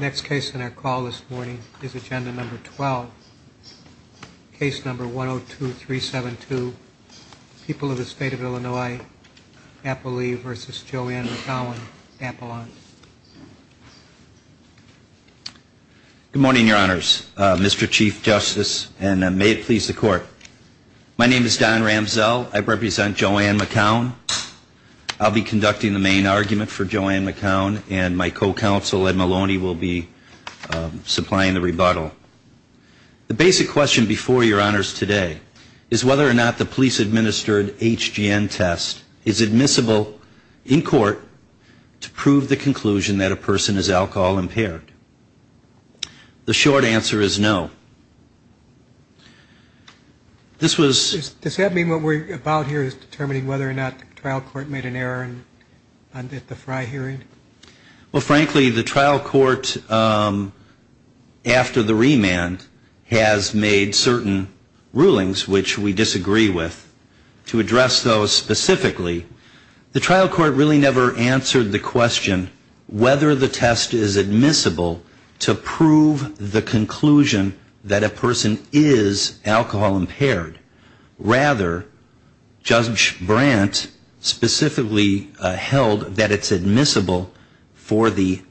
Next case on our call this morning is agenda number 12. Case number 102-372, People of the State of Illinois, Appalee v. Joanne McKown, Appalachian. Good morning, your honors, Mr. Chief Justice, and may it please the court. My name is Don Ramsell. I represent Joanne McKown. I'll be conducting the main argument for Joanne McKown and my co-counsel, Ed Maloney, will be supplying the rebuttal. The basic question before your honors today is whether or not the police-administered HGN test is admissible in court to prove the conclusion that a person is alcohol impaired. The short answer is no. This was... Does that mean what we're about here is determining whether or not the trial court made an error under the Frey hearing? Well, frankly, the trial court after the remand has made certain rulings which we disagree with. To address those specifically, the trial court really never answered the question whether the test is admissible to prove the conclusion that a person is alcohol impaired. Rather, Judge Brandt specifically held that it's admissible for the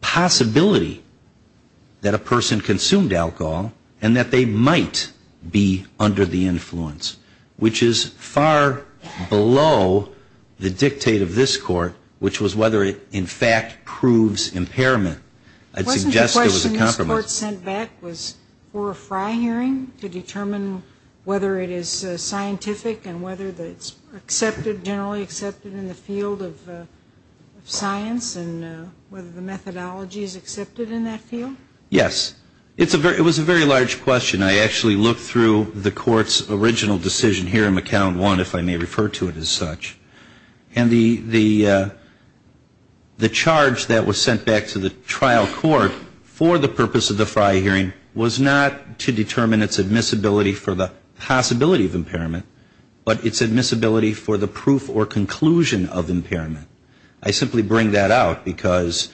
possibility that a person consumed alcohol and that they might be under the influence, which is far below the dictate of this court, which was whether it, in fact, proves impairment. I'd suggest it was a compromise. The question that the court sent back was for a Frey hearing to determine whether it is scientific and whether it's generally accepted in the field of science and whether the methodology is accepted in that field? Yes. It was a very large question. I actually looked through the court's original decision here in McCown 1, if I may refer to it as such. And the charge that was sent back to the trial court for the purpose of the Frey hearing was not to determine its admissibility for the possibility of impairment, but its admissibility for the proof or conclusion of impairment. I simply bring that out because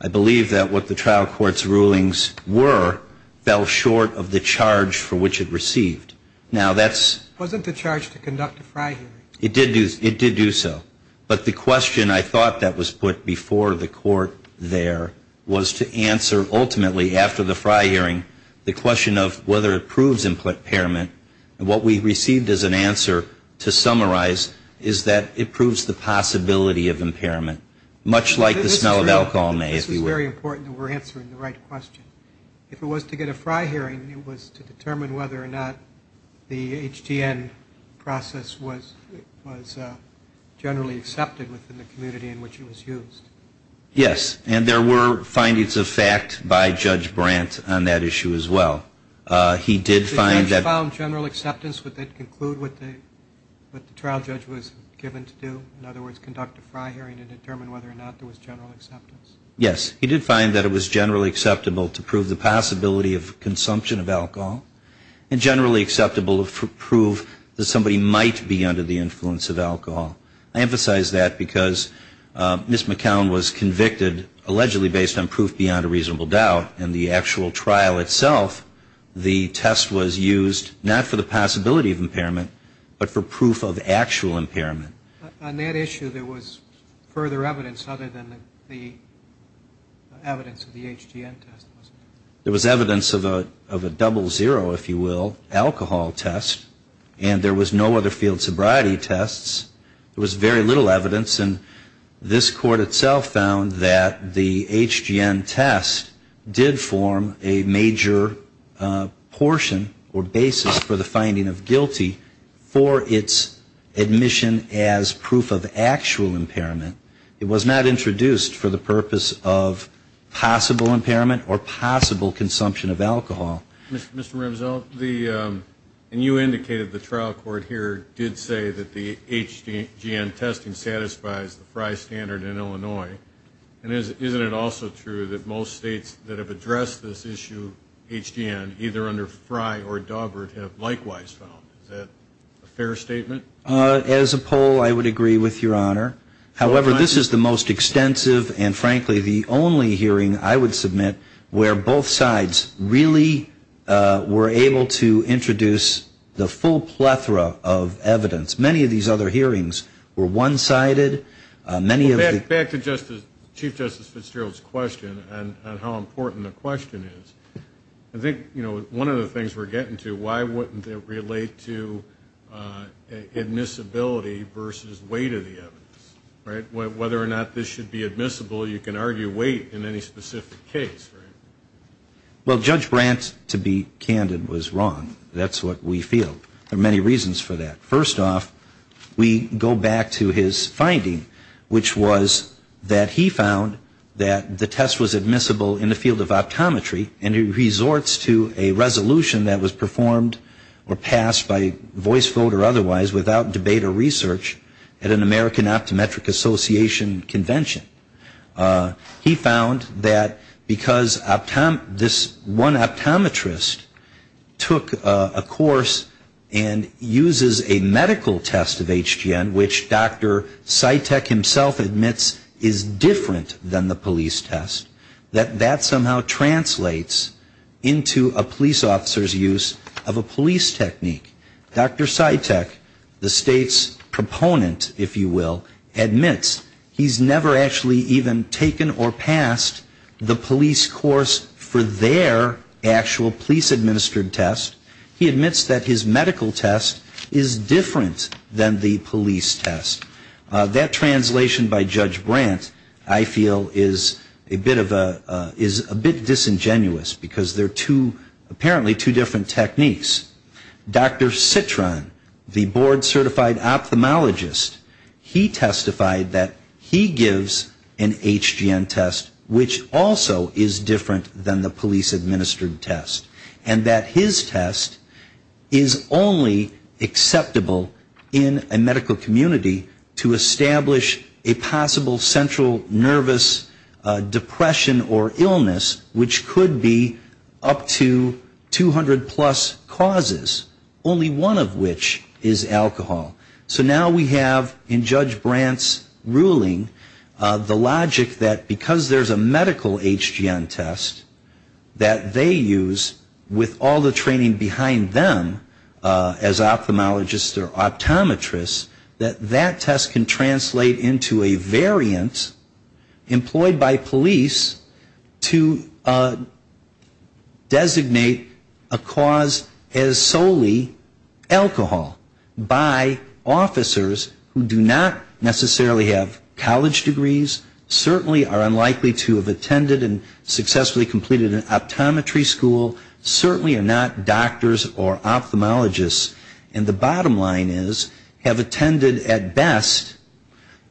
I believe that what the trial court's rulings were fell short of the charge for which it received. Now that's Wasn't the charge to conduct a Frey hearing? It did do so. But the question I thought that was put before the court there was to answer ultimately, after the Frey hearing, the question of whether it proves impairment, and what we received as an answer to summarize is that it proves the possibility of impairment, much like the smell of alcohol may, if you will. This is very important that we're answering the right question. If it was to get a Frey hearing, it was to determine whether or not the HGN process was generally accepted within the community in which it was used. Yes. And there were findings of fact by Judge Brandt on that issue as well. He did find that If the judge found general acceptance, would that conclude what the trial judge was given to do? In other words, conduct a Frey hearing to determine whether or not there was general acceptance? Yes. He did find that it was generally acceptable to prove the possibility of consumption of of alcohol. I emphasize that because Ms. McCown was convicted allegedly based on proof beyond a reasonable doubt. In the actual trial itself, the test was used not for the possibility of impairment, but for proof of actual impairment. On that issue, there was further evidence other than the evidence of the HGN test? There was evidence of a double zero, if you will, alcohol test, and there was no other field sobriety tests. There was very little evidence, and this court itself found that the HGN test did form a major portion or basis for the finding of guilty for its admission as proof of actual impairment. It was not introduced for the purpose of possible impairment or possible consumption of alcohol. Mr. Ramsello, you indicated the trial court here did say that the HGN testing satisfies the Frey standard in Illinois. Isn't it also true that most states that have addressed this issue, HGN, either under Frey or Dawbert have likewise found? Is that a fair statement? As a poll, I would agree with Your Honor. However, this is the most extensive and frankly the only hearing I would submit where both sides really were able to introduce the full plethora of evidence. Many of these other hearings were one-sided. Back to Chief Justice Fitzgerald's question on how important the question is. I think one of the things we're getting to, why wouldn't it relate to admissibility versus weight of the evidence? Whether or not this should be admissible, you can argue weight in any specific case. Well, Judge Brandt, to be candid, was wrong. That's what we feel. There are many reasons for that. First off, we go back to his finding, which was that he found that the test was admissible in the field of optometry and he resorts to a resolution that was performed or passed by voice vote or otherwise without debate or research at an American Optometric Association convention. He found that because this one optometrist took a course and uses a medical test of HGN, which Dr. Cytek himself admits is different than the police test, that that somehow translates into a police officer's use of a police technique. Dr. Cytek, the state's proponent, if you will, admits he's never actually even taken or passed the police course for their actual police-administered test. He admits that his medical test is different than the police test. That translation by Judge Brandt, I feel, is a bit disingenuous because they're apparently two different techniques. Dr. Citron, the board-certified ophthalmologist, he testified that he gives an HGN test which also is different than the police-administered test and that his test is only acceptable in a medical community to establish a possible central nervous depression or illness which could be up to 200 plus causes, only one of which is alcohol. So now we have in Judge Brandt's ruling the logic that because there's a medical HGN test that they use with all the training behind them as ophthalmologists or optometrists, that that test can translate into a variant employed by police to designate a cause as solely alcohol by officers who do not necessarily have college degrees, certainly are unlikely to have attended and successfully completed an optometry school, certainly are not doctors or ophthalmologists, and the bottom line is have attended at best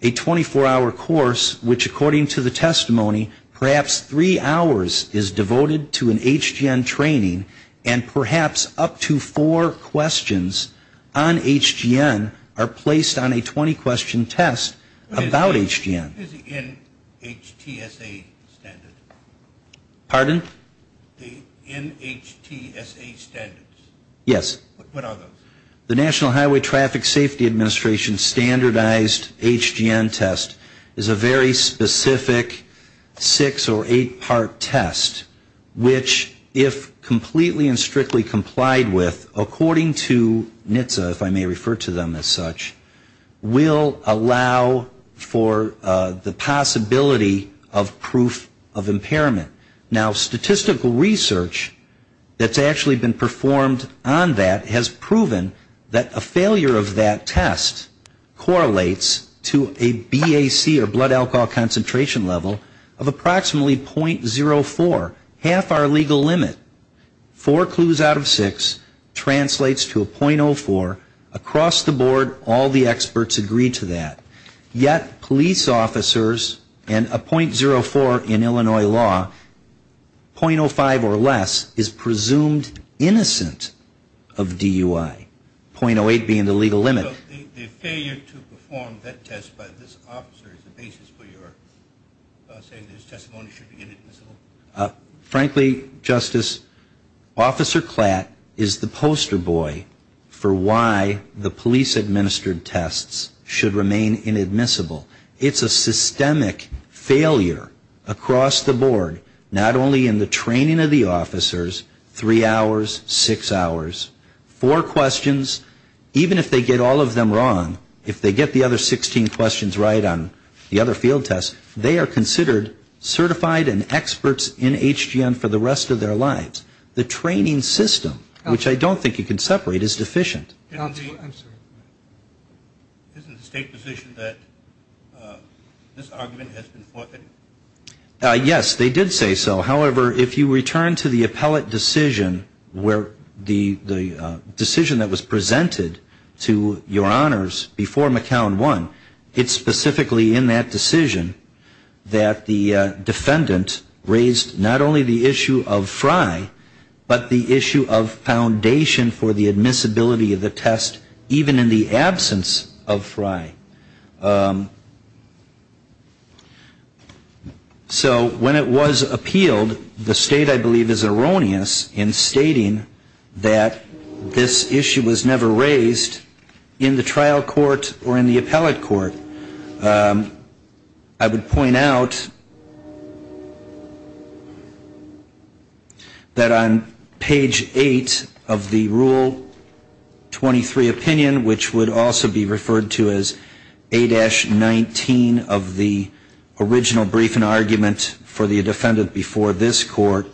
a 24-hour course which according to the testimony, perhaps three hours is devoted to an HGN training and perhaps up to four questions on HGN are placed on a 20-question test about HGN. What is the NHTSA standard? Pardon? The NHTSA standards. Yes. What are those? The National Highway Traffic Safety Administration standardized HGN test is a very specific six or eight-part test which if completely and strictly complied with according to NHTSA, if I may refer to them as such, will allow for the possibility of proof of impairment. Now statistical research that's actually been performed on that has proven that a failure of that test correlates to a BAC or blood alcohol concentration level of approximately .04, half our legal limit. Four clues out of six translates to a .04, half our legal limit. Across the board, all the experts agree to that. Yet police officers and a .04 in Illinois law, .05 or less is presumed innocent of DUI, .08 being the legal limit. So the failure to perform that test by this officer is the basis for your saying that his testimony should be in it? Frankly, Justice, Officer Klatt is the poster boy for why the police administered tests should remain inadmissible. It's a systemic failure across the board, not only in the training of the officers, three hours, six hours, four questions, even if they get all of them wrong, if they get the other 16 questions right on the other field tests, they are considered certified and experts in HGN for the rest of their lives. The training system, which I don't think you can separate, is deficient. Isn't the state position that this argument has been forfeited? Yes, they did say so. However, if you return to the appellate decision where the decision that was presented to your honors before McCown won, it's specifically in that decision that the defendant raised not only the issue of Frye, but the issue of foundation for the admissibility of the test, even in the absence of Frye. So when it was appealed, the state, I believe, is erroneous in stating that this issue was never raised in the trial court or in the appellate court. I would point out that the defendant, that on page eight of the rule 23 opinion, which would also be referred to as A-19 of the original briefing argument for the defendant before this court,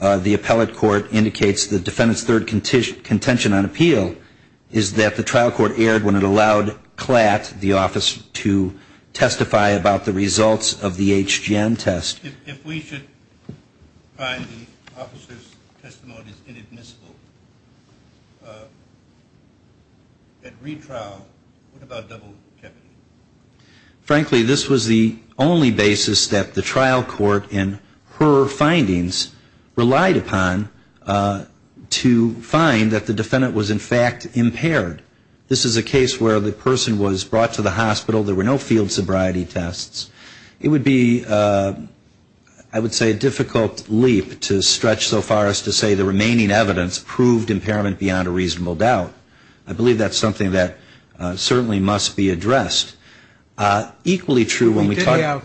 the appellate court indicates the defendant's third contention on appeal is that the trial court erred when it presented the question of whether the defendant had been able to do a HGN test. If we should find the officer's testimonies inadmissible at retrial, what about double jeopardy? Frankly, this was the only basis that the trial court in her findings relied upon to find that the defendant was in fact impaired. This is a case where the person was brought to the hospital, there were no field sobriety tests. It would be, I would say, a difficult leap to stretch so far as to say the remaining evidence proved impairment beyond a reasonable doubt. I believe that's something that certainly must be addressed. Equally true when we talk about...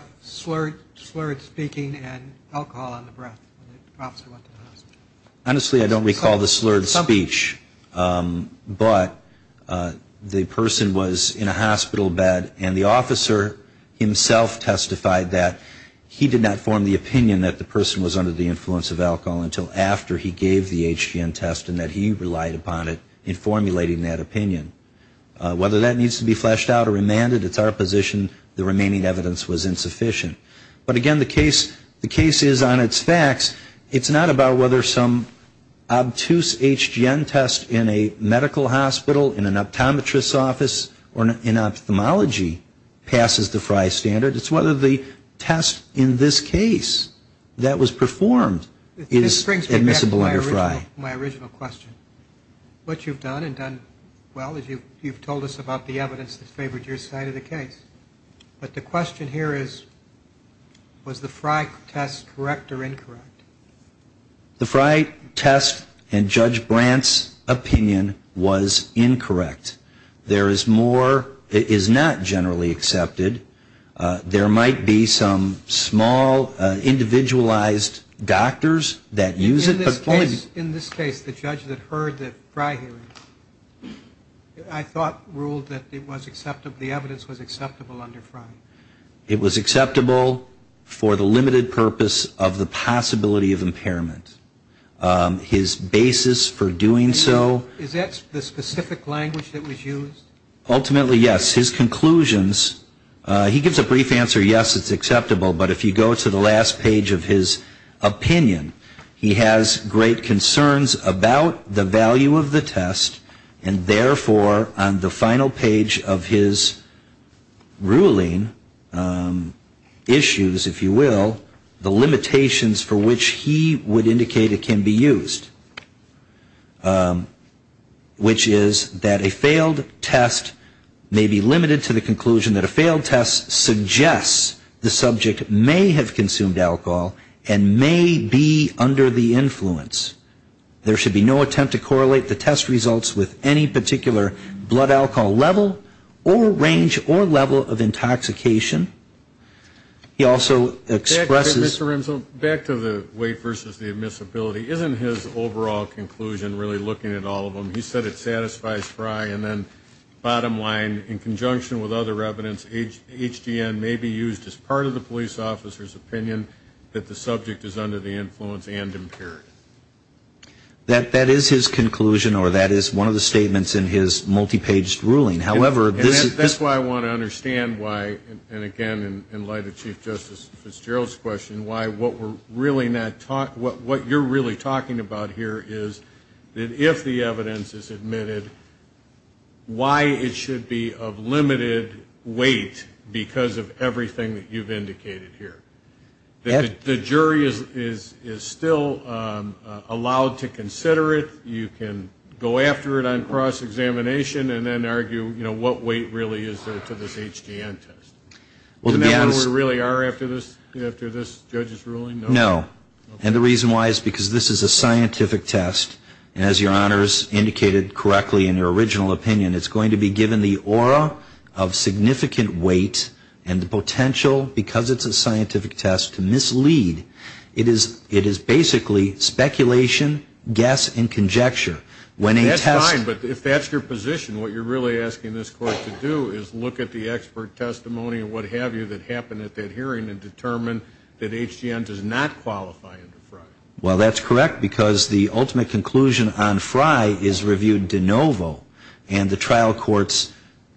But the person was in a hospital bed and the officer himself testified that he did not form the opinion that the person was under the influence of alcohol until after he gave the HGN test and that he relied upon it in formulating that opinion. Whether that needs to be fleshed out or remanded, it's our position the remaining evidence was insufficient. But again, the case is on its facts. It's not about whether some obtuse HGN test in a hospital bed in a medical hospital, in an optometrist's office, or in ophthalmology passes the FRI standard. It's whether the test in this case that was performed is admissible under FRI. My original question, what you've done and done well is you've told us about the evidence that favored your side of the case. But the question here is, was the FRI test correct or incorrect? The FRI test and Judge Brandt's opinion was incorrect. There is more, it is not generally accepted. There might be some small individualized doctors that use it. In this case, the judge that heard the FRI hearing, I thought ruled that it was acceptable, the evidence was acceptable under FRI. It was acceptable for the limited purpose of the possibility of impairment. His basis for doing so... Is that the specific language that was used? Ultimately, yes. His conclusions, he gives a brief answer, yes, it's acceptable. But if you go to the last page of his opinion, he has great concerns about the value of the test. And therefore, on the final page of his ruling, he has great concerns about issues, if you will, the limitations for which he would indicate it can be used. Which is that a failed test may be limited to the conclusion that a failed test suggests the subject may have consumed alcohol and may be under the influence. There should be no attempt to correlate the test results with any particular blood substance. He also expresses... Back to the weight versus the admissibility. Isn't his overall conclusion really looking at all of them? He said it satisfies FRI. And then bottom line, in conjunction with other evidence, HDN may be used as part of the police officer's opinion that the subject is under the influence and impaired. That is his conclusion or that is one of the statements in his multi-paged ruling. And again, in light of Chief Justice Fitzgerald's question, what you're really talking about here is that if the evidence is admitted, why it should be of limited weight because of everything that you've indicated here. The jury is still allowed to consider it. You can go after it on cross-examination and then argue, you know, what weight really is related to this HDN test? Isn't that what we really are after this judge's ruling? No. And the reason why is because this is a scientific test, and as your honors indicated correctly in your original opinion, it's going to be given the aura of significant weight and the potential, because it's a scientific test, to mislead. It is basically speculation, guess, and conjecture. That's fine, but if that's your position, what you're really asking this court to do is look at the expert testimony and what have you that happened at that hearing and determine that HDN does not qualify under FRI. Well, that's correct, because the ultimate conclusion on FRI is reviewed de novo, and the trial court's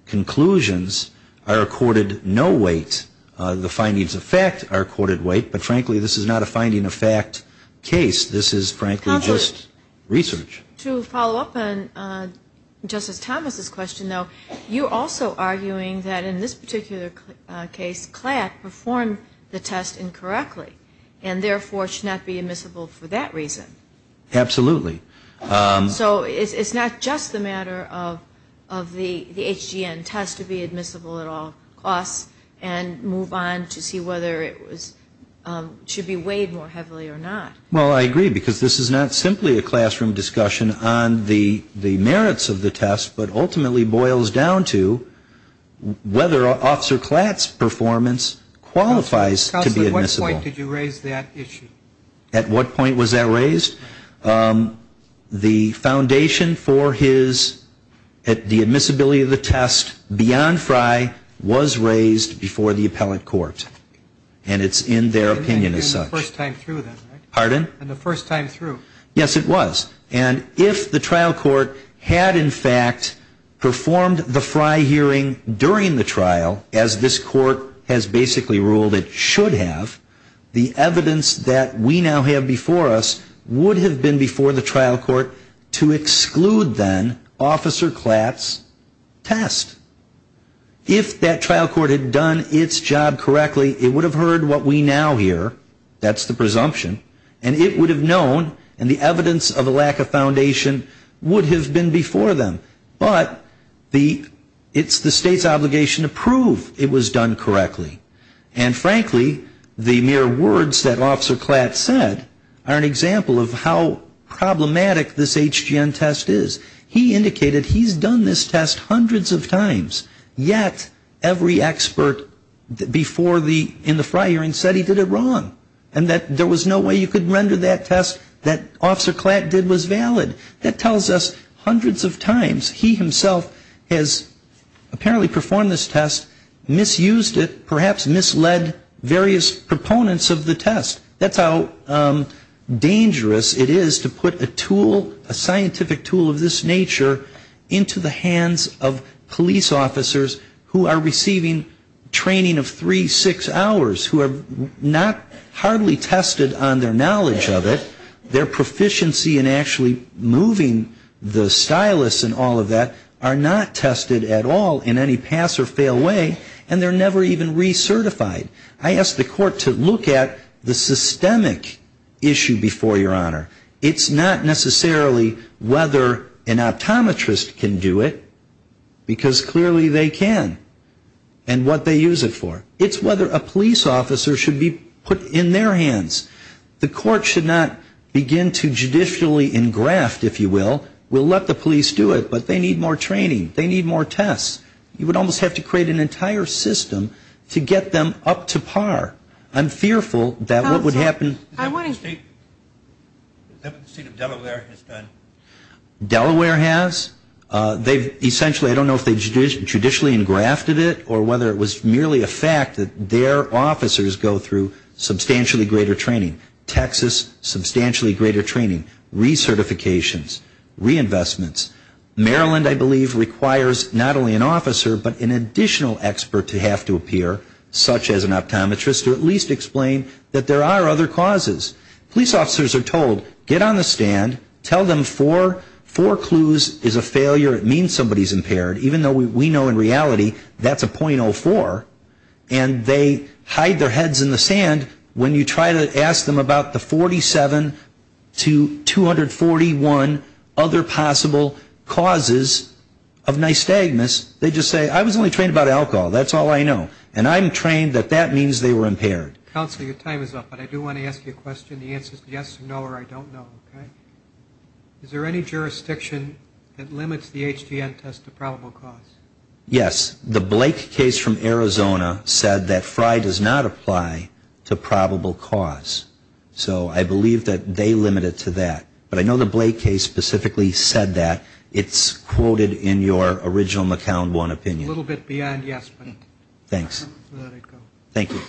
conclusions are accorded no weight. The findings of fact are accorded weight, but frankly, this is not a finding of fact case. This is frankly just research. To follow up on Justice Thomas's question, though, you're also arguing that in this particular case, CLAT performed the test incorrectly, and therefore should not be admissible for that reason. Absolutely. So it's not just a matter of the HDN test to be admissible at all costs and move on to see whether it should be weighed more heavily or not. Well, I agree, because this is not simply a classroom discussion on the merits of the test, but ultimately boils down to whether Officer CLAT's performance qualifies to be admissible. Counsel, at what point did you raise that issue? At what point was that raised? The foundation for his, the admissibility of the test beyond FRI was raised before the appellate court, and it's in their opinion as such. Pardon? And the first time through. Yes, it was. And if the trial court had in fact performed the FRI hearing during the trial, as this court has basically ruled it should have, the evidence that we now have before us would have been before the trial court to exclude then Officer CLAT's test. If that trial court had done its job correctly, it would have heard what we now hear, that's the presumption, and it would have known, and the evidence of a lack of foundation would have been before them. But it's the state's obligation to prove it was done correctly. And frankly, the mere words that Officer CLAT said are an example of how problematic this HDN test is. He indicated he's done this test hundreds of times, yet every expert before the, in the FRI hearing said he did it wrong, and that there was no way you could render that test that Officer CLAT did was valid. That tells us hundreds of times he himself has apparently performed this test, misused it, perhaps misled various proponents of the test. That's how dangerous it is to put a tool, a scientific tool of this nature into the hands of police officers who are receiving training of three, six hours, who are not hardly tested on their knowledge of it. Their proficiency in actually moving the stylus and all of that are not tested at all in any pass or fail way, and they're never even recertified. I asked the court to look at the systemic issue before Your Honor. It's not necessarily whether an optometrist can do it, because clearly they can, and what they use it for. It's whether a police officer should be put in their hands. The court should not begin to judicially engraft, if you will. We'll let the police do it, but they need more training. They need more tests. You would almost have to create an entire system to get them up to par. I'm fearful that what would happen. Delaware has. They've essentially, I don't know if they judicially engrafted it or whether it was merely a fact that their officers go through substantially greater training. Texas, substantially greater training, recertifications, reinvestments. Maryland, I believe, requires not only an officer, but an additional expert to have to appear, such as an optometrist, to at least explain that there are other causes. Police officers are told, get on the stand, tell them four clues is a failure, it means somebody's impaired, even though we know in reality that's a .04. And they hide their heads in the sand when you try to ask them about the 47 to 241 other possible causes of nystagmus. They just say, I was only trained about alcohol. That's all I know. And I'm trained that that means they were impaired. Counsel, your time is up, but I do want to ask you a question. The answer is yes or no or I don't know. Is there any jurisdiction that limits the HGN test to probable cause? Yes. The Blake case from Arizona said that Fry does not apply to probable cause. So I believe that they limit it to that. But I know the Blake case specifically said that. It's quoted in your original McCown one opinion. A little bit beyond yes. Thank you.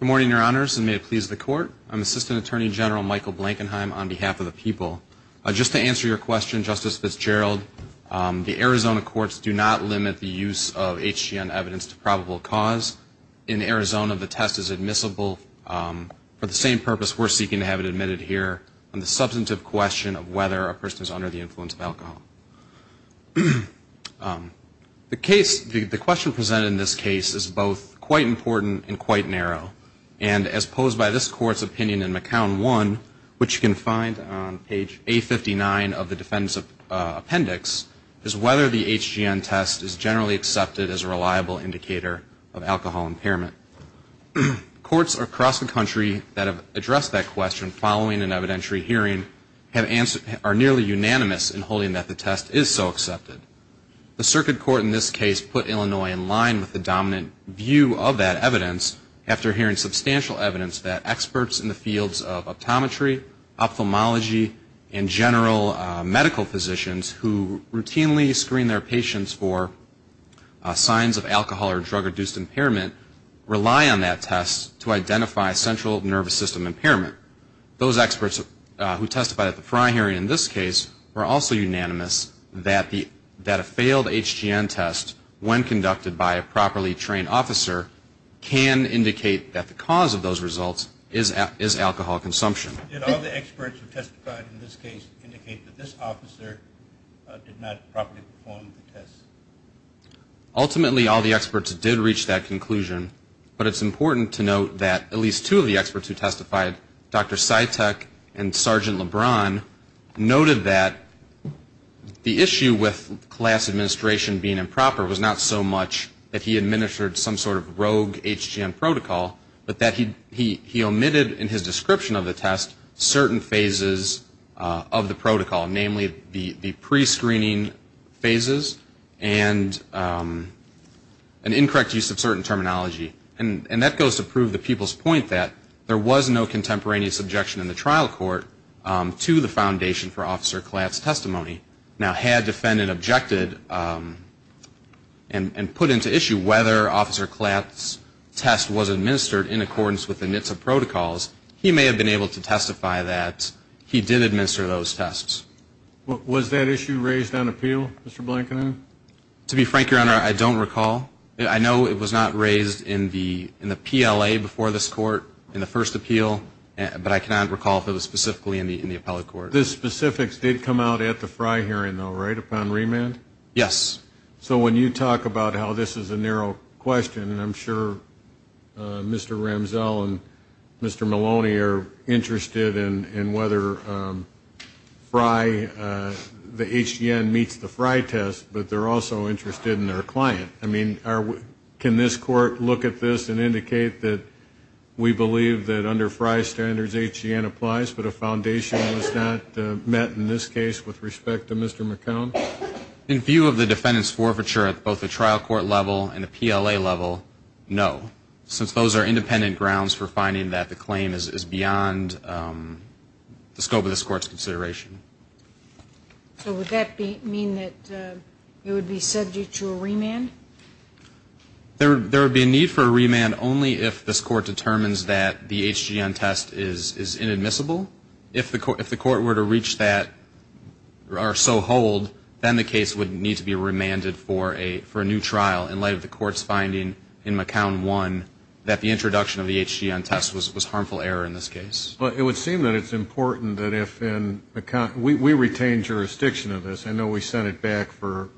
Good morning, Your Honors, and may it please the Court. I'm Assistant Attorney General Michael Blankenheim on behalf of the people. Just to answer your question, Justice Fitzgerald, the Arizona courts do not limit the use of HGN evidence to probable cause. In Arizona, the test is admissible. For the same purpose, we're seeking to have it admitted here on the substantive question of whether a person is under the influence of alcohol. The question presented in this case is both quite important and quite narrow. And as posed by this Court's opinion in McCown one, which you can find on page A59 of the defendant's appendix, is whether the HGN test is generally accepted as a reliable indicator of alcohol impairment. Courts across the country that have addressed that question following an evidentiary hearing are nearly unanimous in holding that the test is so accepted. The Circuit Court in this case put Illinois in line with the dominant view of that evidence after hearing substantial evidence that experts in the fields of optometry, ophthalmology, and general medical physicians who routinely screen their patients for signs of alcohol or drug-reduced impairment rely on that test to identify central nervous system impairment. Those experts who testified at the prior hearing in this case were also unanimous that a failed HGN test, when conducted by a properly trained officer, can indicate that the cause of those results is alcohol consumption. Did all the experts who testified in this case indicate that this officer did not properly perform the test? Ultimately, all the experts did reach that conclusion, but it's important to note that at least two of the experts who testified, Dr. Sytek and Sgt. LeBron, noted that the issue with class administration being improper was not so much that he administered some sort of rogue HGN protocol, but that he omitted in his description of the test certain phases of the protocol, namely the prescreening phases and an incorrect use of certain terminology. And that goes to prove the people's point that there was no contemporaneous objection in the trial court that he now had defended, objected, and put into issue whether Officer Klatt's test was administered in accordance with the NHTSA protocols. He may have been able to testify that he did administer those tests. Was that issue raised on appeal, Mr. Blankenhorn? To be frank, Your Honor, I don't recall. I know it was not raised in the PLA before this court in the first appeal, but I cannot recall if it was specifically in the appellate court. The specifics did come out at the Frey hearing, though, right, upon remand? Yes. So when you talk about how this is a narrow question, and I'm sure Mr. Ramsell and Mr. Maloney are interested in whether the HGN meets the Frey test, but they're also interested in their client. Can this court look at this and indicate that we believe that under Frey standards HGN applies but a foundation was not met in this case with respect to Mr. McCown? In view of the defendant's forfeiture at both the trial court level and the PLA level, no, since those are independent grounds for finding that the claim is beyond the scope of this court's consideration. So would that mean that it would be subject to a remand? There would be a need for a remand only if this court determines that the HGN test is inadmissible. If the court were to reach that or so hold, then the case would need to be remanded for a new trial in light of the court's finding in McCown 1 that the introduction of the HGN test was harmful error in this case. Well, it would seem that it's important that if in McCown we retain jurisdiction of this. I know we sent it back for,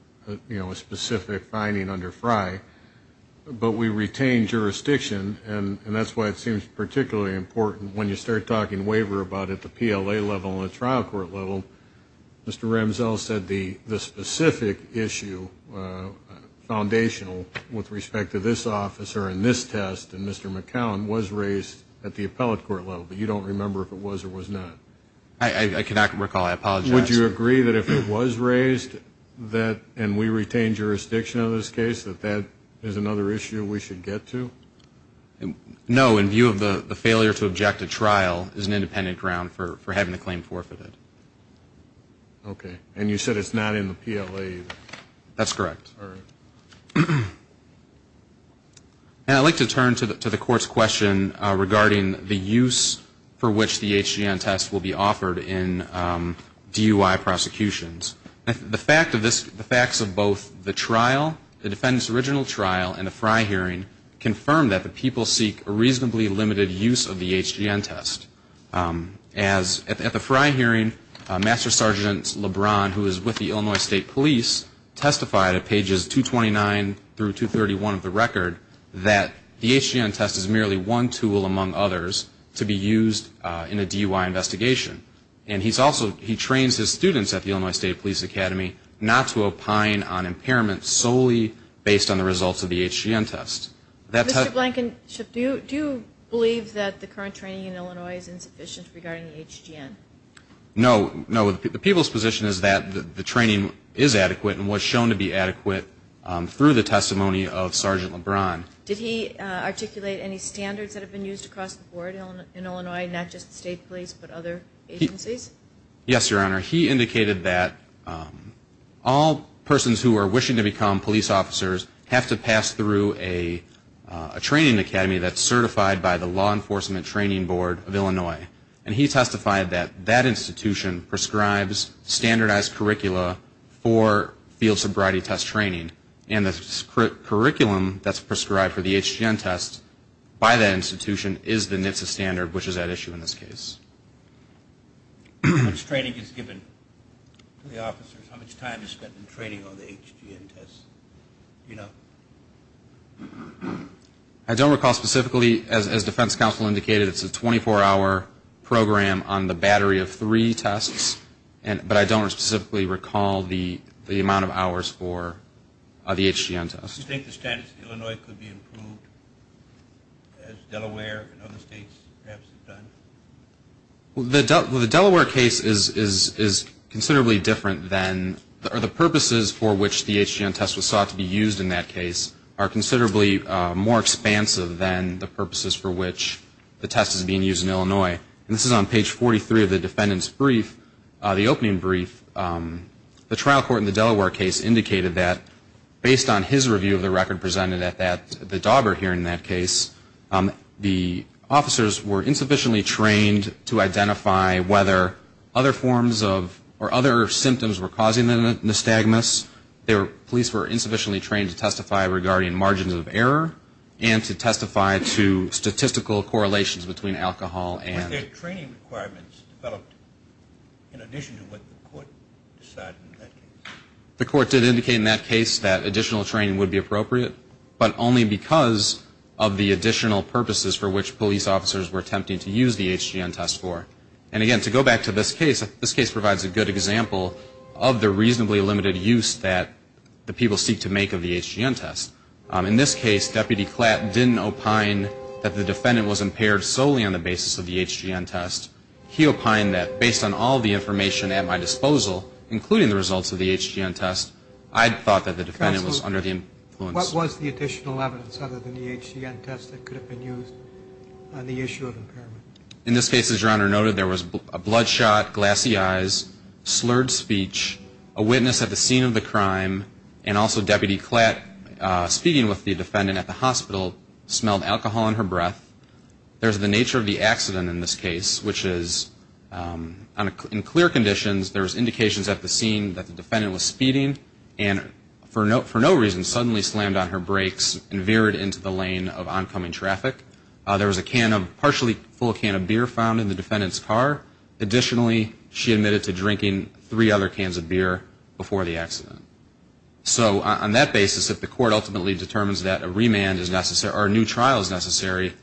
you know, a specific finding under Frey, but we retain jurisdiction and that's why it seems particularly important when you start talking waiver about at the PLA level and the trial court level. Mr. Ramsell said the specific issue foundational with respect to this officer and this test and Mr. McCown was raised at the appellate court level, but you don't remember if it was or was not. I cannot recall. I apologize. Would you agree that if it was raised and we retained jurisdiction of this case, that that is another issue we should get to? No. In view of the failure to object to trial is an independent ground for having the claim forfeited. Okay. And you said it's not in the PLA either. That's correct. And I'd like to turn to the court's question regarding the use for which the HGN test will be offered in DUI prosecutions. The facts of both the trial, the defendant's original trial and the Frey hearing confirm that the people seek a reasonably limited use of the HGN test. At the Frey hearing, Master Sergeant LeBron, who is with the Illinois State Police, testified at pages 229 through 231 of the record that the HGN test is merely one tool among others to be used in a DUI investigation. And he trains his students at the Illinois State Police Academy not to opine on impairment solely based on the results of the HGN test. Mr. Blankenship, do you believe that the current training in Illinois is insufficient regarding the HGN? No. No. The people's position is that the training is adequate and was shown to be adequate through the testimony of Sergeant LeBron. Did he articulate any standards that have been used across the board in Illinois, not just the State Police, but other agencies? Yes, Your Honor. He indicated that all persons who are wishing to become police officers have to pass through a training academy that's certified by the Law Enforcement Training Board of Illinois. And he testified that that institution prescribes standardized curricula for field sobriety test training. And the curriculum that's prescribed for the HGN test by that institution is the NHTSA standard, which is at issue in this case. How much training is given to the officers? How much time is spent in training on the HGN test? I don't recall specifically. As Defense Counsel indicated, it's a 24-hour program on the battery of three tests. But I don't specifically recall the amount of hours for the HGN test. Do you think the standards in Illinois could be improved as Delaware and other states perhaps have done? Well, the Delaware case is considerably different than, or the purposes for which the HGN test was sought to be used in that case are considerably more expansive than the purposes for which the test is being used in Illinois. And this is on page 43 of the defendant's brief, the opening brief. The trial court in the Delaware case indicated that based on his review of the record presented at that, the dauber here in that case, the officers were insufficiently trained to identify whether other forms of, or other symptoms were causing the nystagmus. They were, police were insufficiently trained to testify regarding margins of error and to testify to statistical correlations between alcohol and. Were there training requirements developed in addition to what the court decided in that case? The court did indicate in that case that additional training would be appropriate, but only because of the additional purposes for which police officers were attempting to use the HGN test for. And again, to go back to this case, this case provides a good example of the reasonably limited use that the people seek to make of the HGN test. In this case, Deputy Klatt didn't opine that the defendant was impaired solely on the basis of the HGN test. He opined that based on all the information at my disposal, including the results of the HGN test, I thought that the defendant was under the influence. Counsel, what was the additional evidence other than the HGN test that could have been used on the issue of impairment? In this case, as Your Honor noted, there was a blood shot, glassy eyes, slurred speech, a witness at the scene of the crime, and also Deputy Klatt speaking with the defendant at the hospital smelled alcohol in her breath. There's the nature of the accident in this case, which is in clear conditions, there's indications at the scene that the defendant was speeding and for no reason suddenly slammed on her brakes and veered into the lane of oncoming traffic. There was a partially full can of beer found in the defendant's car. Additionally, she admitted to drinking three other cans of beer before the accident. So on that basis, if the court ultimately determines that a remand is necessary or a new trial is necessary,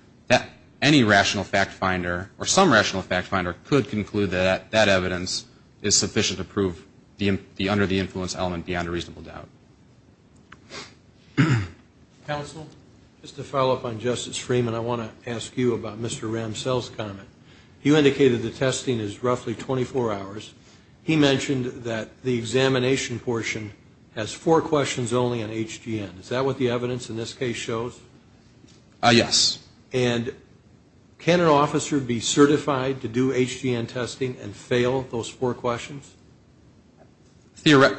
any rational fact finder or some rational fact finder could conclude that that evidence is sufficient to prove the under the influence element beyond a reasonable doubt. Counsel? Just to follow up on Justice Freeman, I want to ask you about Mr. Ramsell's comment. You indicated the testing is roughly 24 hours. He mentioned that the examination portion has four questions only on HGN. Is that what the evidence in this case shows? Yes. And can an officer be certified to do HGN testing and fail those four questions? Well,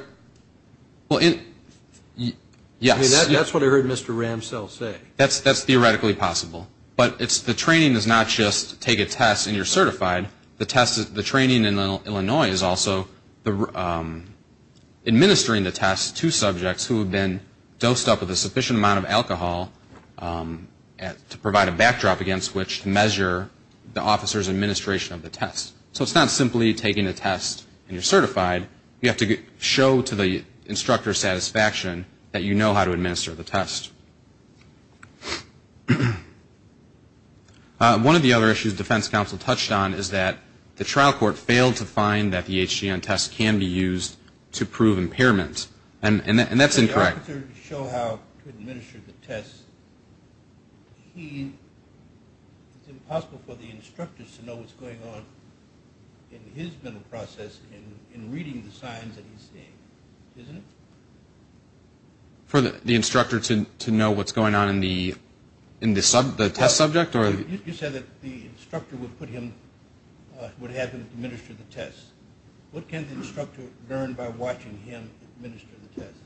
yes. That's what I heard Mr. Ramsell say. That's theoretically possible, but the training is not just take a test and you're certified. The training in Illinois is also administering the test to subjects who have been dosed up with a sufficient amount of alcohol to provide a backdrop against which to measure the officer's administration of the test. So it's not simply taking a test and you're certified. You have to show to the instructor's satisfaction that you know how to administer the test. One of the other issues defense counsel touched on is that the trial court failed to find that the HGN test can be used to prove impairment. And that's incorrect. Can the officer show how to administer the test? It's impossible for the instructor to know what's going on in his mental process in reading the signs that he's seeing, to know what's going on in the test subject. You said that the instructor would have him administer the test. What can the instructor learn by watching him administer the test?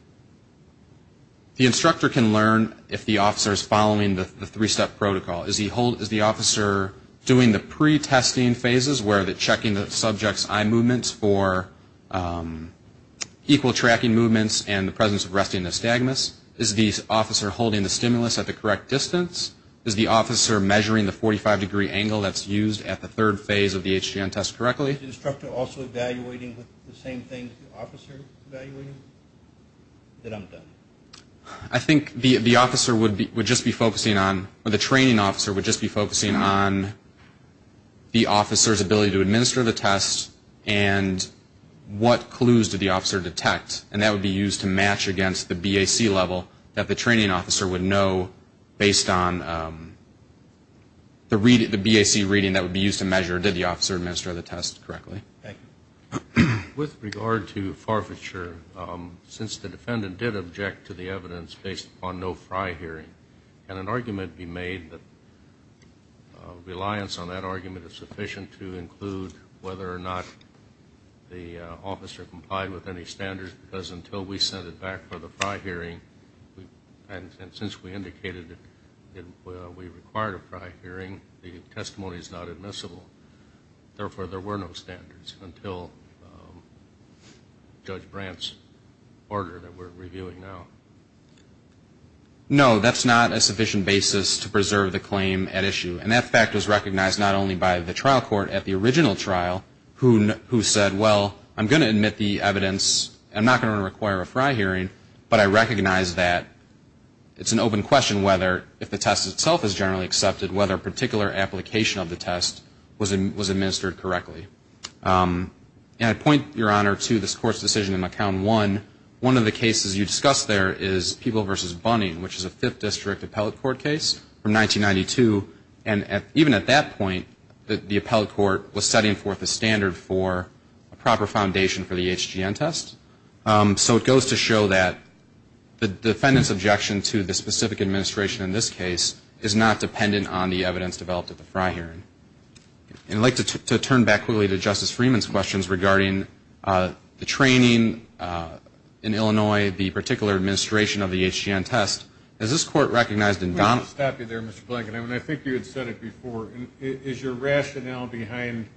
The instructor can learn if the officer is following the three-step protocol. Is the officer doing the pre-testing phases where they're checking the subject's eye movements for equal tracking movements and the presence of resting nystagmus? Is the officer holding the stimulus at the correct distance? Is the officer measuring the 45-degree angle that's used at the third phase of the HGN test correctly? Is the instructor also evaluating the same thing the officer is evaluating? Then I'm done. I think the training officer would just be focusing on the officer's ability to administer the test and what clues did the officer detect, and that would be used to match against the BAC level that the training officer would know based on the BAC reading that would be used to measure did the officer administer the test correctly. With regard to forfeiture, since the defendant did object to the evidence based upon no FRI hearing, can an argument be made that reliance on that argument is sufficient to include whether or not the officer complied with any standards? Because until we sent it back for the FRI hearing, and since we indicated that we required a FRI hearing, the testimony is not admissible. Therefore, there were no standards until Judge Brandt's order that we're reviewing now. No, that's not a sufficient basis to preserve the claim at issue, and that fact was recognized not only by the trial court at the original trial, who said, well, I'm going to admit the evidence. I'm not going to require a FRI hearing, but I recognize that it's an open question whether, if the test itself is generally accepted, whether a particular application of the test was administered correctly. And I point, Your Honor, to this Court's decision in McCown 1. One of the cases you discussed there is Peeble v. Bunning, which is a 5th District Appellate Court case from 1992. And even at that point, the Appellate Court was setting forth a standard for a proper foundation for the HGN test. So it goes to show that the defendant's objection to the specific administration in this case is not dependent on the evidence developed at the FRI hearing. And I'd like to turn back quickly to Justice Freeman's questions regarding the training in Illinois, the particular administration of the HGN test. Has this Court recognized in Donovan? I think you had said it before. Is your rationale behind,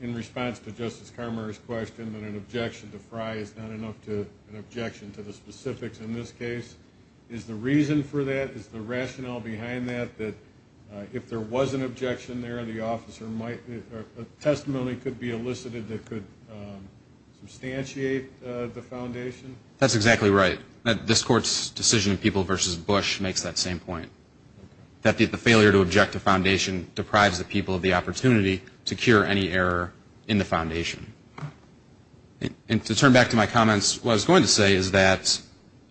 in response to Justice Carmer's question, that an objection to FRI is not enough to an objection to the specifics in this case? Is the reason for that, is the rationale behind that, that if there was an objection there, the officer might, a testimony could be elicited that could substantiate the foundation? That's exactly right. This Court's decision in People v. Bush makes that same point, that the failure to object to foundation deprives the people of the opportunity to cure any error in the foundation. And to turn back to my comments, what I was going to say is that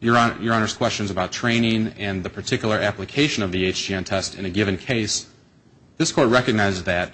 Your Honor's questions about training and the particular application of the HGN test in a given case, this Court recognized that,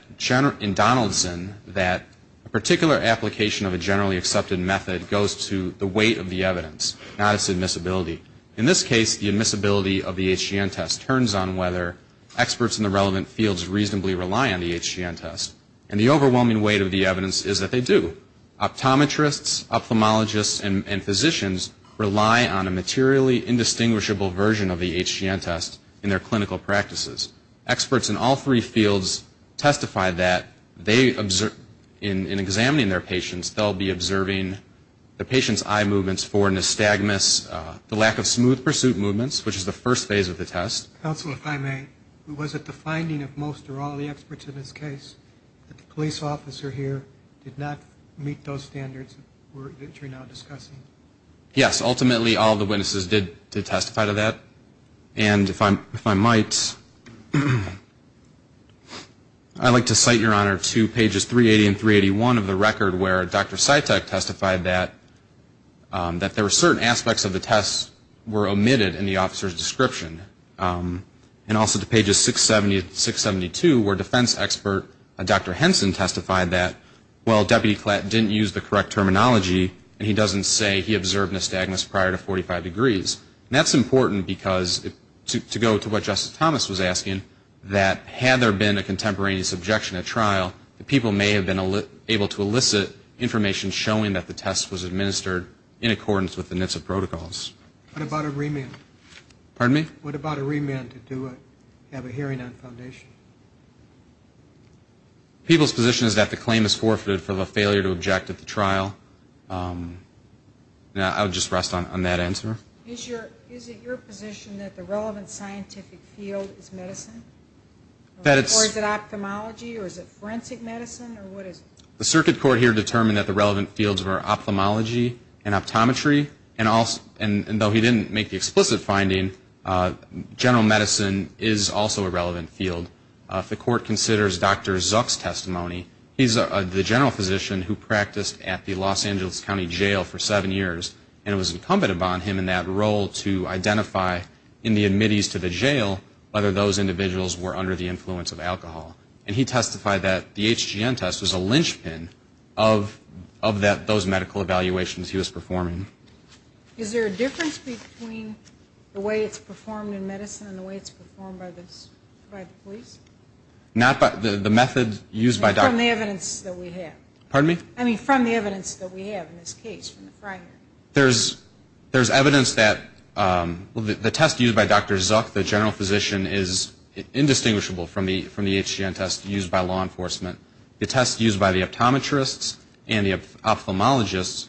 in Donaldson, that a particular application of a generally accepted method goes to the weight of the evidence, not its admissibility. In this case, the admissibility of the HGN test turns on whether experts in the relevant fields reasonably rely on the HGN test. And the overwhelming weight of the evidence is that they do. Optometrists, ophthalmologists, and physicians rely on a materially indistinguishable version of the HGN test in their clinical practices. Experts in all three fields testify that in examining their patients, they'll be observing the patient's eye movements for nystagmus, the lack of smooth pursuit movements, which is the first phase of the test. Counsel, if I may, was it the finding of most or all the experts in this case that the police officer here did not meet those standards that you're now discussing? Yes, ultimately, all the witnesses did testify to that. And if I might, I'd like to cite, Your Honor, to pages 380 and 381 of the record, where Dr. Cytek testified that there were certain aspects of the test were omitted in the officer's description. And also to pages 670 and 672, where defense expert Dr. Henson testified that, well, Deputy Klatt didn't use the correct terminology, and he doesn't say he observed nystagmus prior to 45 degrees. And that's important because, to go to what Justice Thomas was asking, that had there been a contemporaneous objection at trial, the people may have been able to elicit information showing that the test was administered in accordance with the NHTSA protocols. What about a remand? What about a remand to have a hearing on foundation? People's position is that the claim is forfeited from a failure to object at the trial. I would just rest on that answer. Is it your position that the relevant scientific field is medicine? Or is it ophthalmology? Or is it forensic medicine? The circuit court here determined that the relevant fields were ophthalmology and optometry, and though he didn't make the explicit finding, general medicine is also a relevant field. If the court considers Dr. Zuck's testimony, he's the general physician who practiced at the Los Angeles County Jail for seven years, and it was incumbent upon him in that role to identify in the admittees to the jail whether those individuals were under the influence of alcohol. And he testified that the HGN test was a linchpin of those medical evaluations he was performing. Is there a difference between the way it's performed in medicine and the way it's performed by the police? Not by the method used by Dr. Zuck. I mean from the evidence that we have in this case. There's evidence that the test used by Dr. Zuck, the general physician, is indistinguishable from the HGN test used by law enforcement. The test used by the optometrists and the ophthalmologists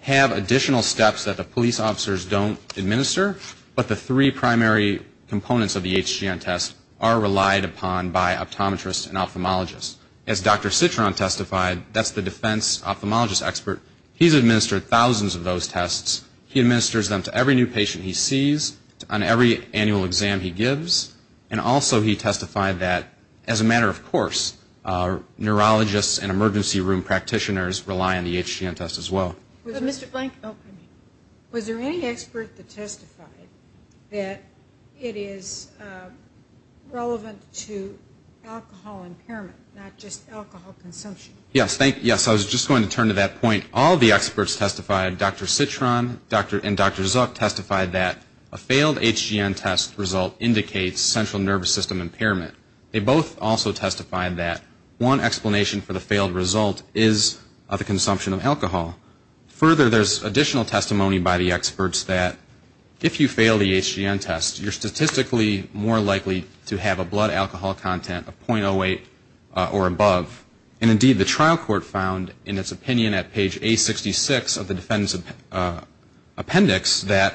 have additional steps that the police officers don't administer, but the three primary components of the HGN test are relied upon by optometrists and ophthalmologists. As Dr. Citron testified, that's the defense ophthalmologist expert. He's administered thousands of those tests. He administers them to every new patient he sees, on every annual exam he gives, and also he testified that, as a matter of course, neurologists and emergency room practitioners rely on the HGN test as well. Was there any expert that testified that it is relevant to alcohol impairment, not just alcohol consumption? Yes, I was just going to turn to that point. All the experts testified, Dr. Citron and Dr. Zuck testified that a failed HGN test result indicates central nervous system impairment. They both also testified that one explanation for the failed result is the consumption of alcohol. Further, there's additional testimony by the experts that if you fail the HGN test, you're statistically more likely to have a blood alcohol content of .08 or above, and indeed the trial court found in its opinion at page A66 of the defendant's appendix that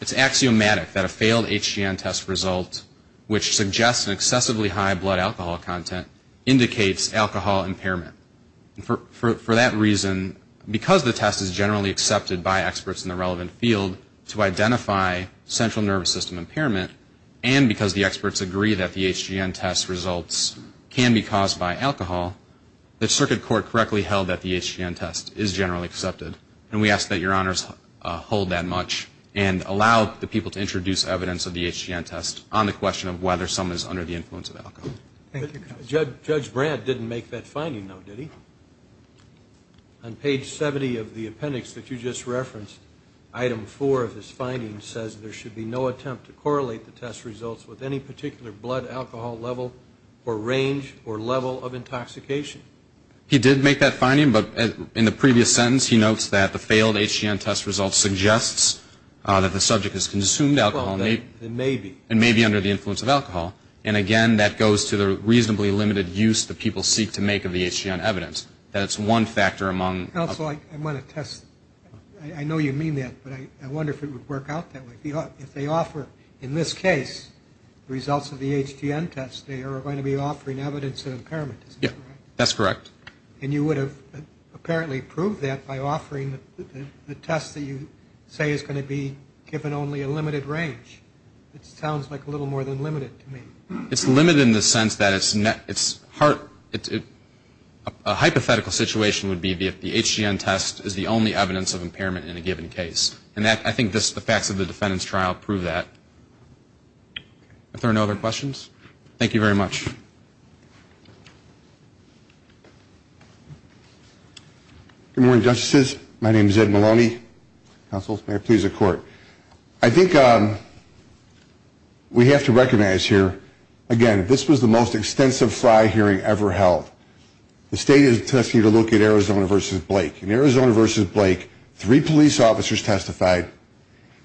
it's axiomatic that a failed HGN test result, which suggests an excessively high blood alcohol content, indicates alcohol impairment. For that reason, because the test is generally accepted by experts in the relevant field to identify central nervous system impairment, and because the experts agree that the HGN test results can be caused by alcohol, the circuit court correctly held that the HGN test is generally accepted. And we ask that your honors hold that much and allow the people to introduce evidence of the HGN test on the question of whether someone is under the influence of alcohol. Thank you, counsel. Judge Brandt didn't make that finding, though, did he? On page 70 of the appendix that you just referenced, item 4 of his finding says there should be no attempt to correlate the test results with any particular blood alcohol level or range or level of intoxication. He did make that finding, but in the previous sentence he notes that the failed HGN test results suggests that the subject has consumed alcohol and may be under the influence of alcohol. And again, that goes to the reasonably limited use that people seek to make of the HGN evidence. That it's one factor among Counsel, I want to test, I know you mean that, but I wonder if it would work out that way. If they offer, in this case, results of the HGN test, they are going to be offering evidence of impairment. Yeah, that's correct. And you would have apparently proved that by offering the test that you say is going to be given only a limited range. It sounds like a little more than limited to me. It's limited in the sense that it's hypothetical situation would be if the HGN test is the only evidence of impairment in a given case. And I think the facts of the defendant's trial prove that. Are there no other questions? Thank you very much. Good morning, justices. My name is Ed Maloney. Counsel, may I please have the court. I think we have to recognize here, again, this was the most extensive trial hearing ever held. The state is testing to look at Arizona versus Blake. In Arizona versus Blake, three police officers testified,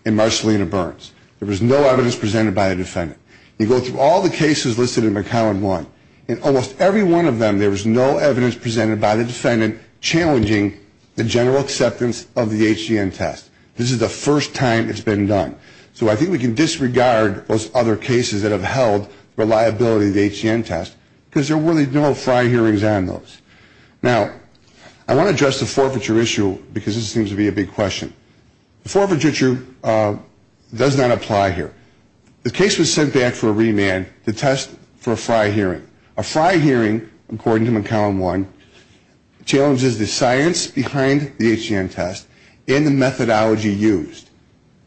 and Marcellina Burns. There was no evidence presented by the defendant. You go through all the cases listed in column one, and almost every one of them, there was no evidence presented by the defendant challenging the general acceptance of the HGN test. This is the first time it's been done. So I think we can disregard those other cases that have held reliability of the HGN test, because there were no FRI hearings on those. Now, I want to address the forfeiture issue, because this seems to be a big question. The forfeiture issue does not apply here. The case was sent back for a remand to test for a FRI hearing. A FRI hearing, according to column one, challenges the science behind the HGN test and the methodology used.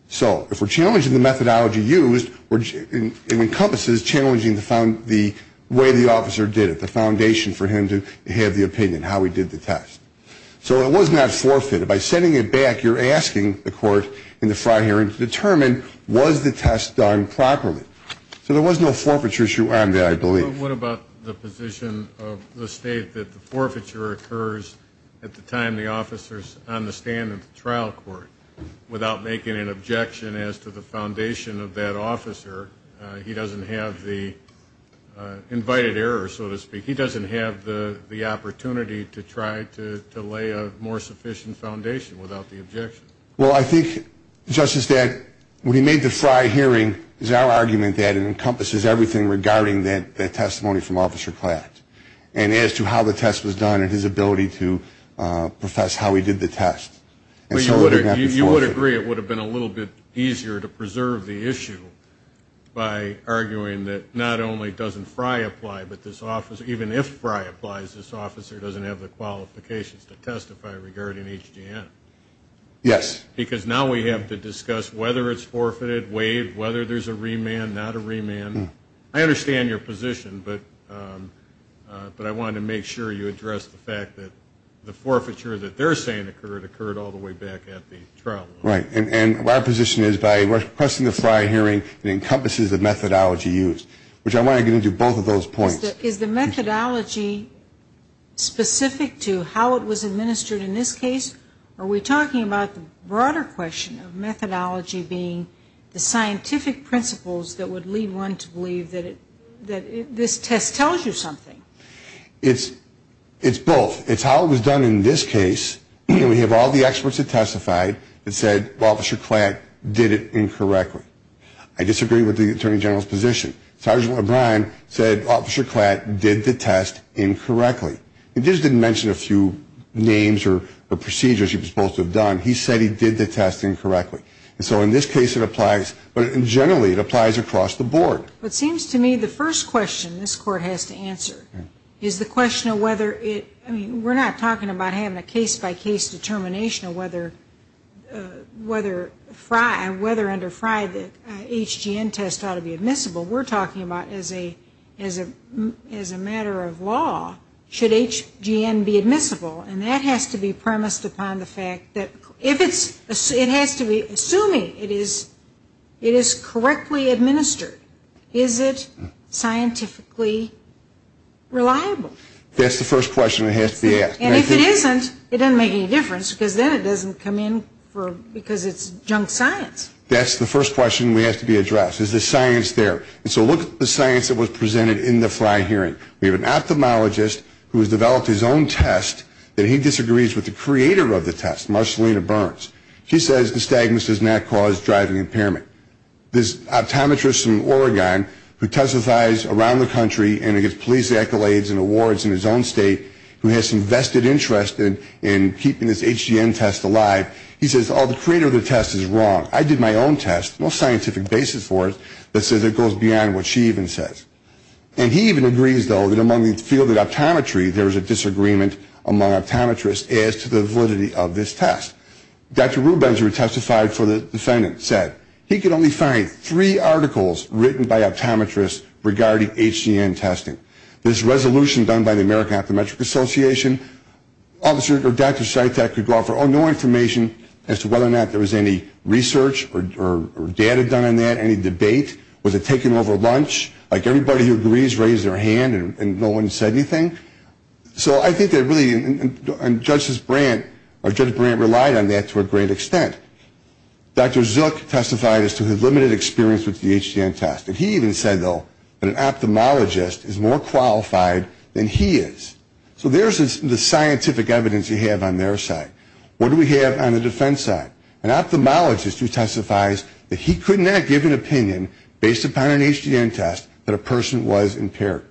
So if we're challenging the methodology used, it encompasses challenging the way the officer did it, the foundation for him to have the opinion, how he did the test. So it was not forfeited. By sending it back, you're asking the court in the FRI hearing to determine, was the test done properly? So there was no forfeiture issue on that, I believe. But what about the position of the State that the forfeiture occurs at the time the officer is on the stand in the trial court without making an objection as to the foundation of that officer? He doesn't have the invited error, so to speak. He doesn't have the opportunity to try to lay a more sufficient foundation without the objection. Well, I think, Justice, that when he made the FRI hearing, it was our argument that it encompasses everything regarding that testimony from Officer Klatt and as to how the test was done and his ability to profess how he did the test. You would agree it would have been a little bit easier to preserve the issue by arguing that not only doesn't FRI apply, but even if FRI applies, this officer doesn't have the qualifications to testify regarding HGM. Yes. Because now we have to discuss whether it's forfeited, waived, whether there's a remand, not a remand. I understand your position, but I wanted to make sure you addressed the fact that the forfeiture that they're saying occurred, all the way back at the trial. Right, and my position is by requesting the FRI hearing, it encompasses the methodology used, which I want to get into both of those points. Is the methodology specific to how it was administered in this case, or are we talking about the broader question of methodology being the scientific principles that would lead one to believe that this test tells you something? It's both. It's how it was done in this case, and we have all the experts that testified that said Officer Klatt did it incorrectly. I disagree with the Attorney General's position. Sergeant O'Brien said Officer Klatt did the test incorrectly. He just didn't mention a few names or procedures he was supposed to have done. He said he did the test incorrectly. And so in this case it applies, but generally it applies across the board. It seems to me the first question this Court has to answer is the question of whether it, I mean we're not talking about having a case-by-case determination of whether under FRI the HGM test ought to be admissible. We're talking about as a matter of law should HGM be admissible, and that has to be premised upon the fact that if it's, it has to be, assuming it is correctly administered, is it scientifically reliable? That's the first question that has to be asked. And if it isn't, it doesn't make any difference because then it doesn't come in because it's junk science. That's the first question we have to be addressed. Is the science there? And so look at the science that was presented in the FRI hearing. We have an ophthalmologist who has developed his own test that he disagrees with the creator of the test, Marcellina Burns. She says nystagmus does not cause driving impairment. This optometrist from Oregon who testifies around the country and gets police accolades and awards in his own state who has some vested interest in keeping this HGM test alive, he says, oh, the creator of the test is wrong. I did my own test. No scientific basis for it that says it goes beyond what she even says. And he even agrees, though, that among the field of optometry, there is a disagreement among optometrists as to the validity of this test. Dr. Rubens, who testified for the defendant, said he could only find three articles written by optometrists regarding HGM testing. This resolution done by the American Optometric Association, Dr. Sytek could offer no information as to whether or not there was any research or data done on that, any debate. Was it taken over lunch? Like everybody who agrees raised their hand and no one said anything. So I think that really, and Judge Brandt relied on that to a great extent. Dr. Zook testified as to his limited experience with the HGM test. And he even said, though, that an ophthalmologist is more qualified than he is. So there's the scientific evidence you have on their side. What do we have on the defense side? An ophthalmologist who testifies that he could not give an opinion based upon an HGM test that a person was impaired.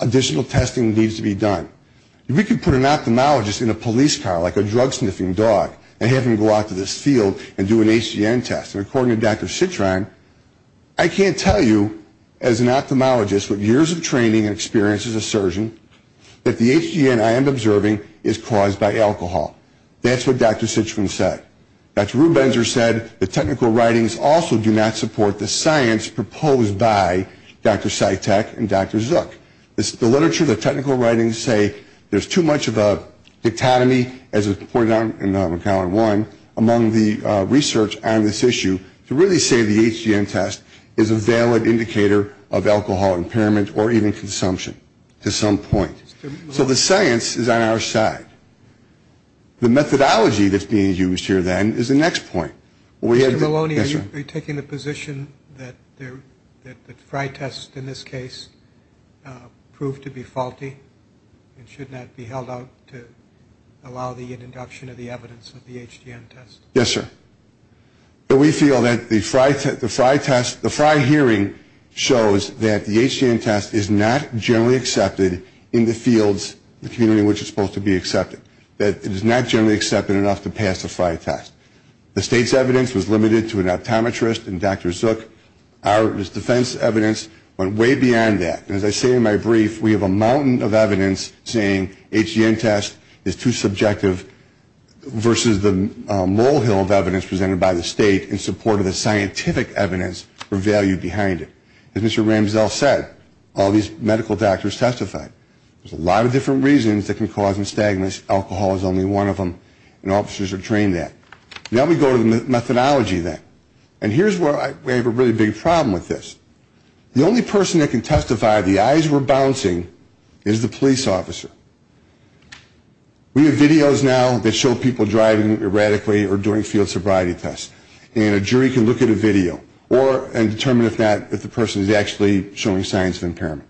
Additional testing needs to be done. If we could put an ophthalmologist in a police car like a drug-sniffing dog and have him go out to this field and do an HGM test, and according to Dr. Citron, I can't tell you as an ophthalmologist with years of training and experience as a surgeon that the HGM I am observing is caused by alcohol. That's what Dr. Citron said. Dr. Rubenzer said the technical writings also do not support the science proposed by Dr. Sytek and Dr. Zook. The literature, the technical writings say there's too much of a dichotomy, as was pointed out in Column 1, among the research on this issue, to really say the HGM test is a valid indicator of alcohol impairment or even consumption to some point. So the science is on our side. The methodology that's being used here then is the next point. Mr. Maloney, are you taking the position that the Frye test in this case proved to be faulty and should not be held out to allow the induction of the evidence of the HGM test? Yes, sir. We feel that the Frye hearing shows that the HGM test is not generally accepted in the fields, the community in which it's supposed to be accepted, that it is not generally accepted enough to pass the Frye test. The state's evidence was limited to an optometrist, and Dr. Zook, our defense evidence went way beyond that. As I say in my brief, we have a mountain of evidence saying HGM test is too subjective versus the molehill of evidence presented by the state in support of the scientific evidence or value behind it. As Mr. Ramsell said, all these medical doctors testified. There's a lot of different reasons that can cause nystagmus. Alcohol is only one of them, and officers are trained at it. Now we go to the methodology then, and here's where I have a really big problem with this. The only person that can testify the eyes were bouncing is the police officer. We have videos now that show people driving erratically or doing field sobriety tests, and a jury can look at a video and determine if the person is actually showing signs of impairment.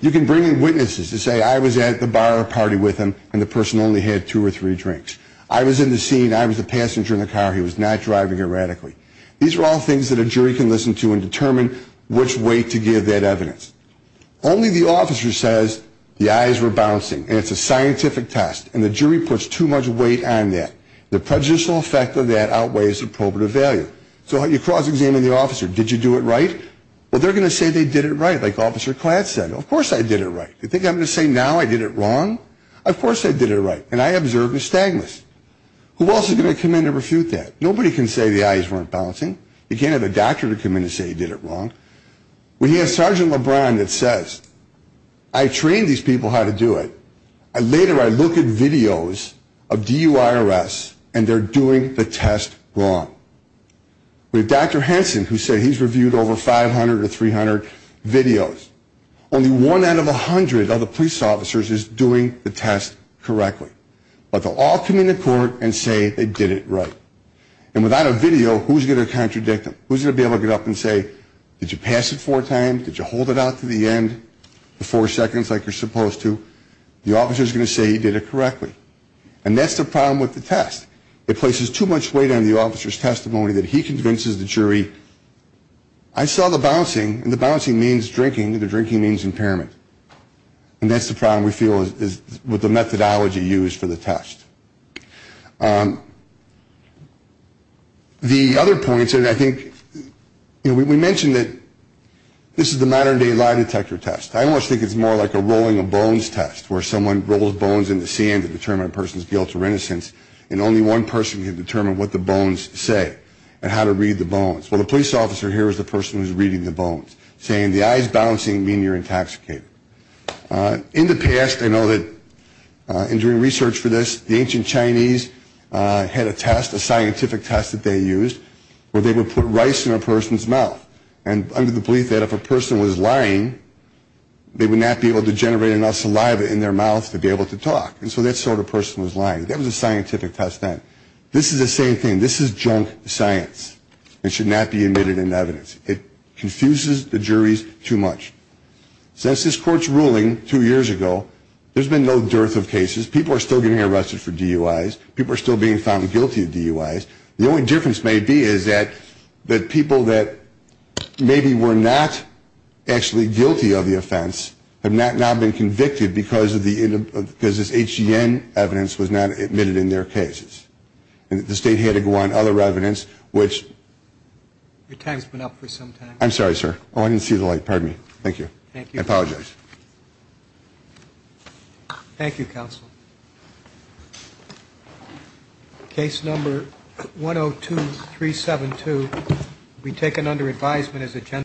You can bring in witnesses and say I was at the bar or party with him, and the person only had two or three drinks. I was in the scene, I was the passenger in the car, he was not driving erratically. These are all things that a jury can listen to and determine which way to give that evidence. Only the officer says the eyes were bouncing, and it's a scientific test, and the jury puts too much weight on that. The prejudicial effect of that outweighs the probative value. So you cross-examine the officer. Did you do it right? Well, they're going to say they did it right, like Officer Klatt said. Of course I did it right. You think I'm going to say now I did it wrong? Of course I did it right, and I observed nystagmus. Who else is going to come in and refute that? Nobody can say the eyes weren't bouncing. You can't have a doctor come in and say he did it wrong. We have Sergeant LeBron that says I trained these people how to do it. Later I look at videos of DUIRS, and they're doing the test wrong. We have Dr. Hanson who said he's reviewed over 500 or 300 videos. Only one out of 100 of the police officers is doing the test correctly. But they'll all come into court and say they did it right. And without a video, who's going to contradict them? Who's going to be able to get up and say, did you pass it four times? Did you hold it out to the end for four seconds like you're supposed to? The officer is going to say you did it correctly. And that's the problem with the test. It places too much weight on the officer's testimony that he convinces the jury, I saw the bouncing, and the bouncing means drinking, and the drinking means impairment. And that's the problem we feel is with the methodology used for the test. The other points, and I think, you know, we mentioned that this is the modern-day lie detector test. I almost think it's more like a rolling of bones test where someone rolls bones in the sand to determine a person's guilt or innocence, and only one person can determine what the bones say and how to read the bones. Well, the police officer here is the person who's reading the bones, saying the eyes bouncing mean you're intoxicated. In the past, I know that in doing research for this, the ancient Chinese had a test, a scientific test that they used where they would put rice in a person's mouth, and under the belief that if a person was lying, they would not be able to generate enough saliva in their mouth to be able to talk. And so that sort of person was lying. That was a scientific test then. This is the same thing. This is junk science. It should not be admitted in evidence. It confuses the juries too much. Since this Court's ruling two years ago, there's been no dearth of cases. People are still getting arrested for DUIs. People are still being found guilty of DUIs. The only difference may be is that the people that maybe were not actually guilty of the offense have now been convicted because this HGN evidence was not admitted in their cases, and that the state had to go on other evidence, which... I'm sorry, sir. Oh, I didn't see the light. Pardon me. Thank you. I apologize. Thank you, counsel. Case number 102-372 will be taken under advisement as a...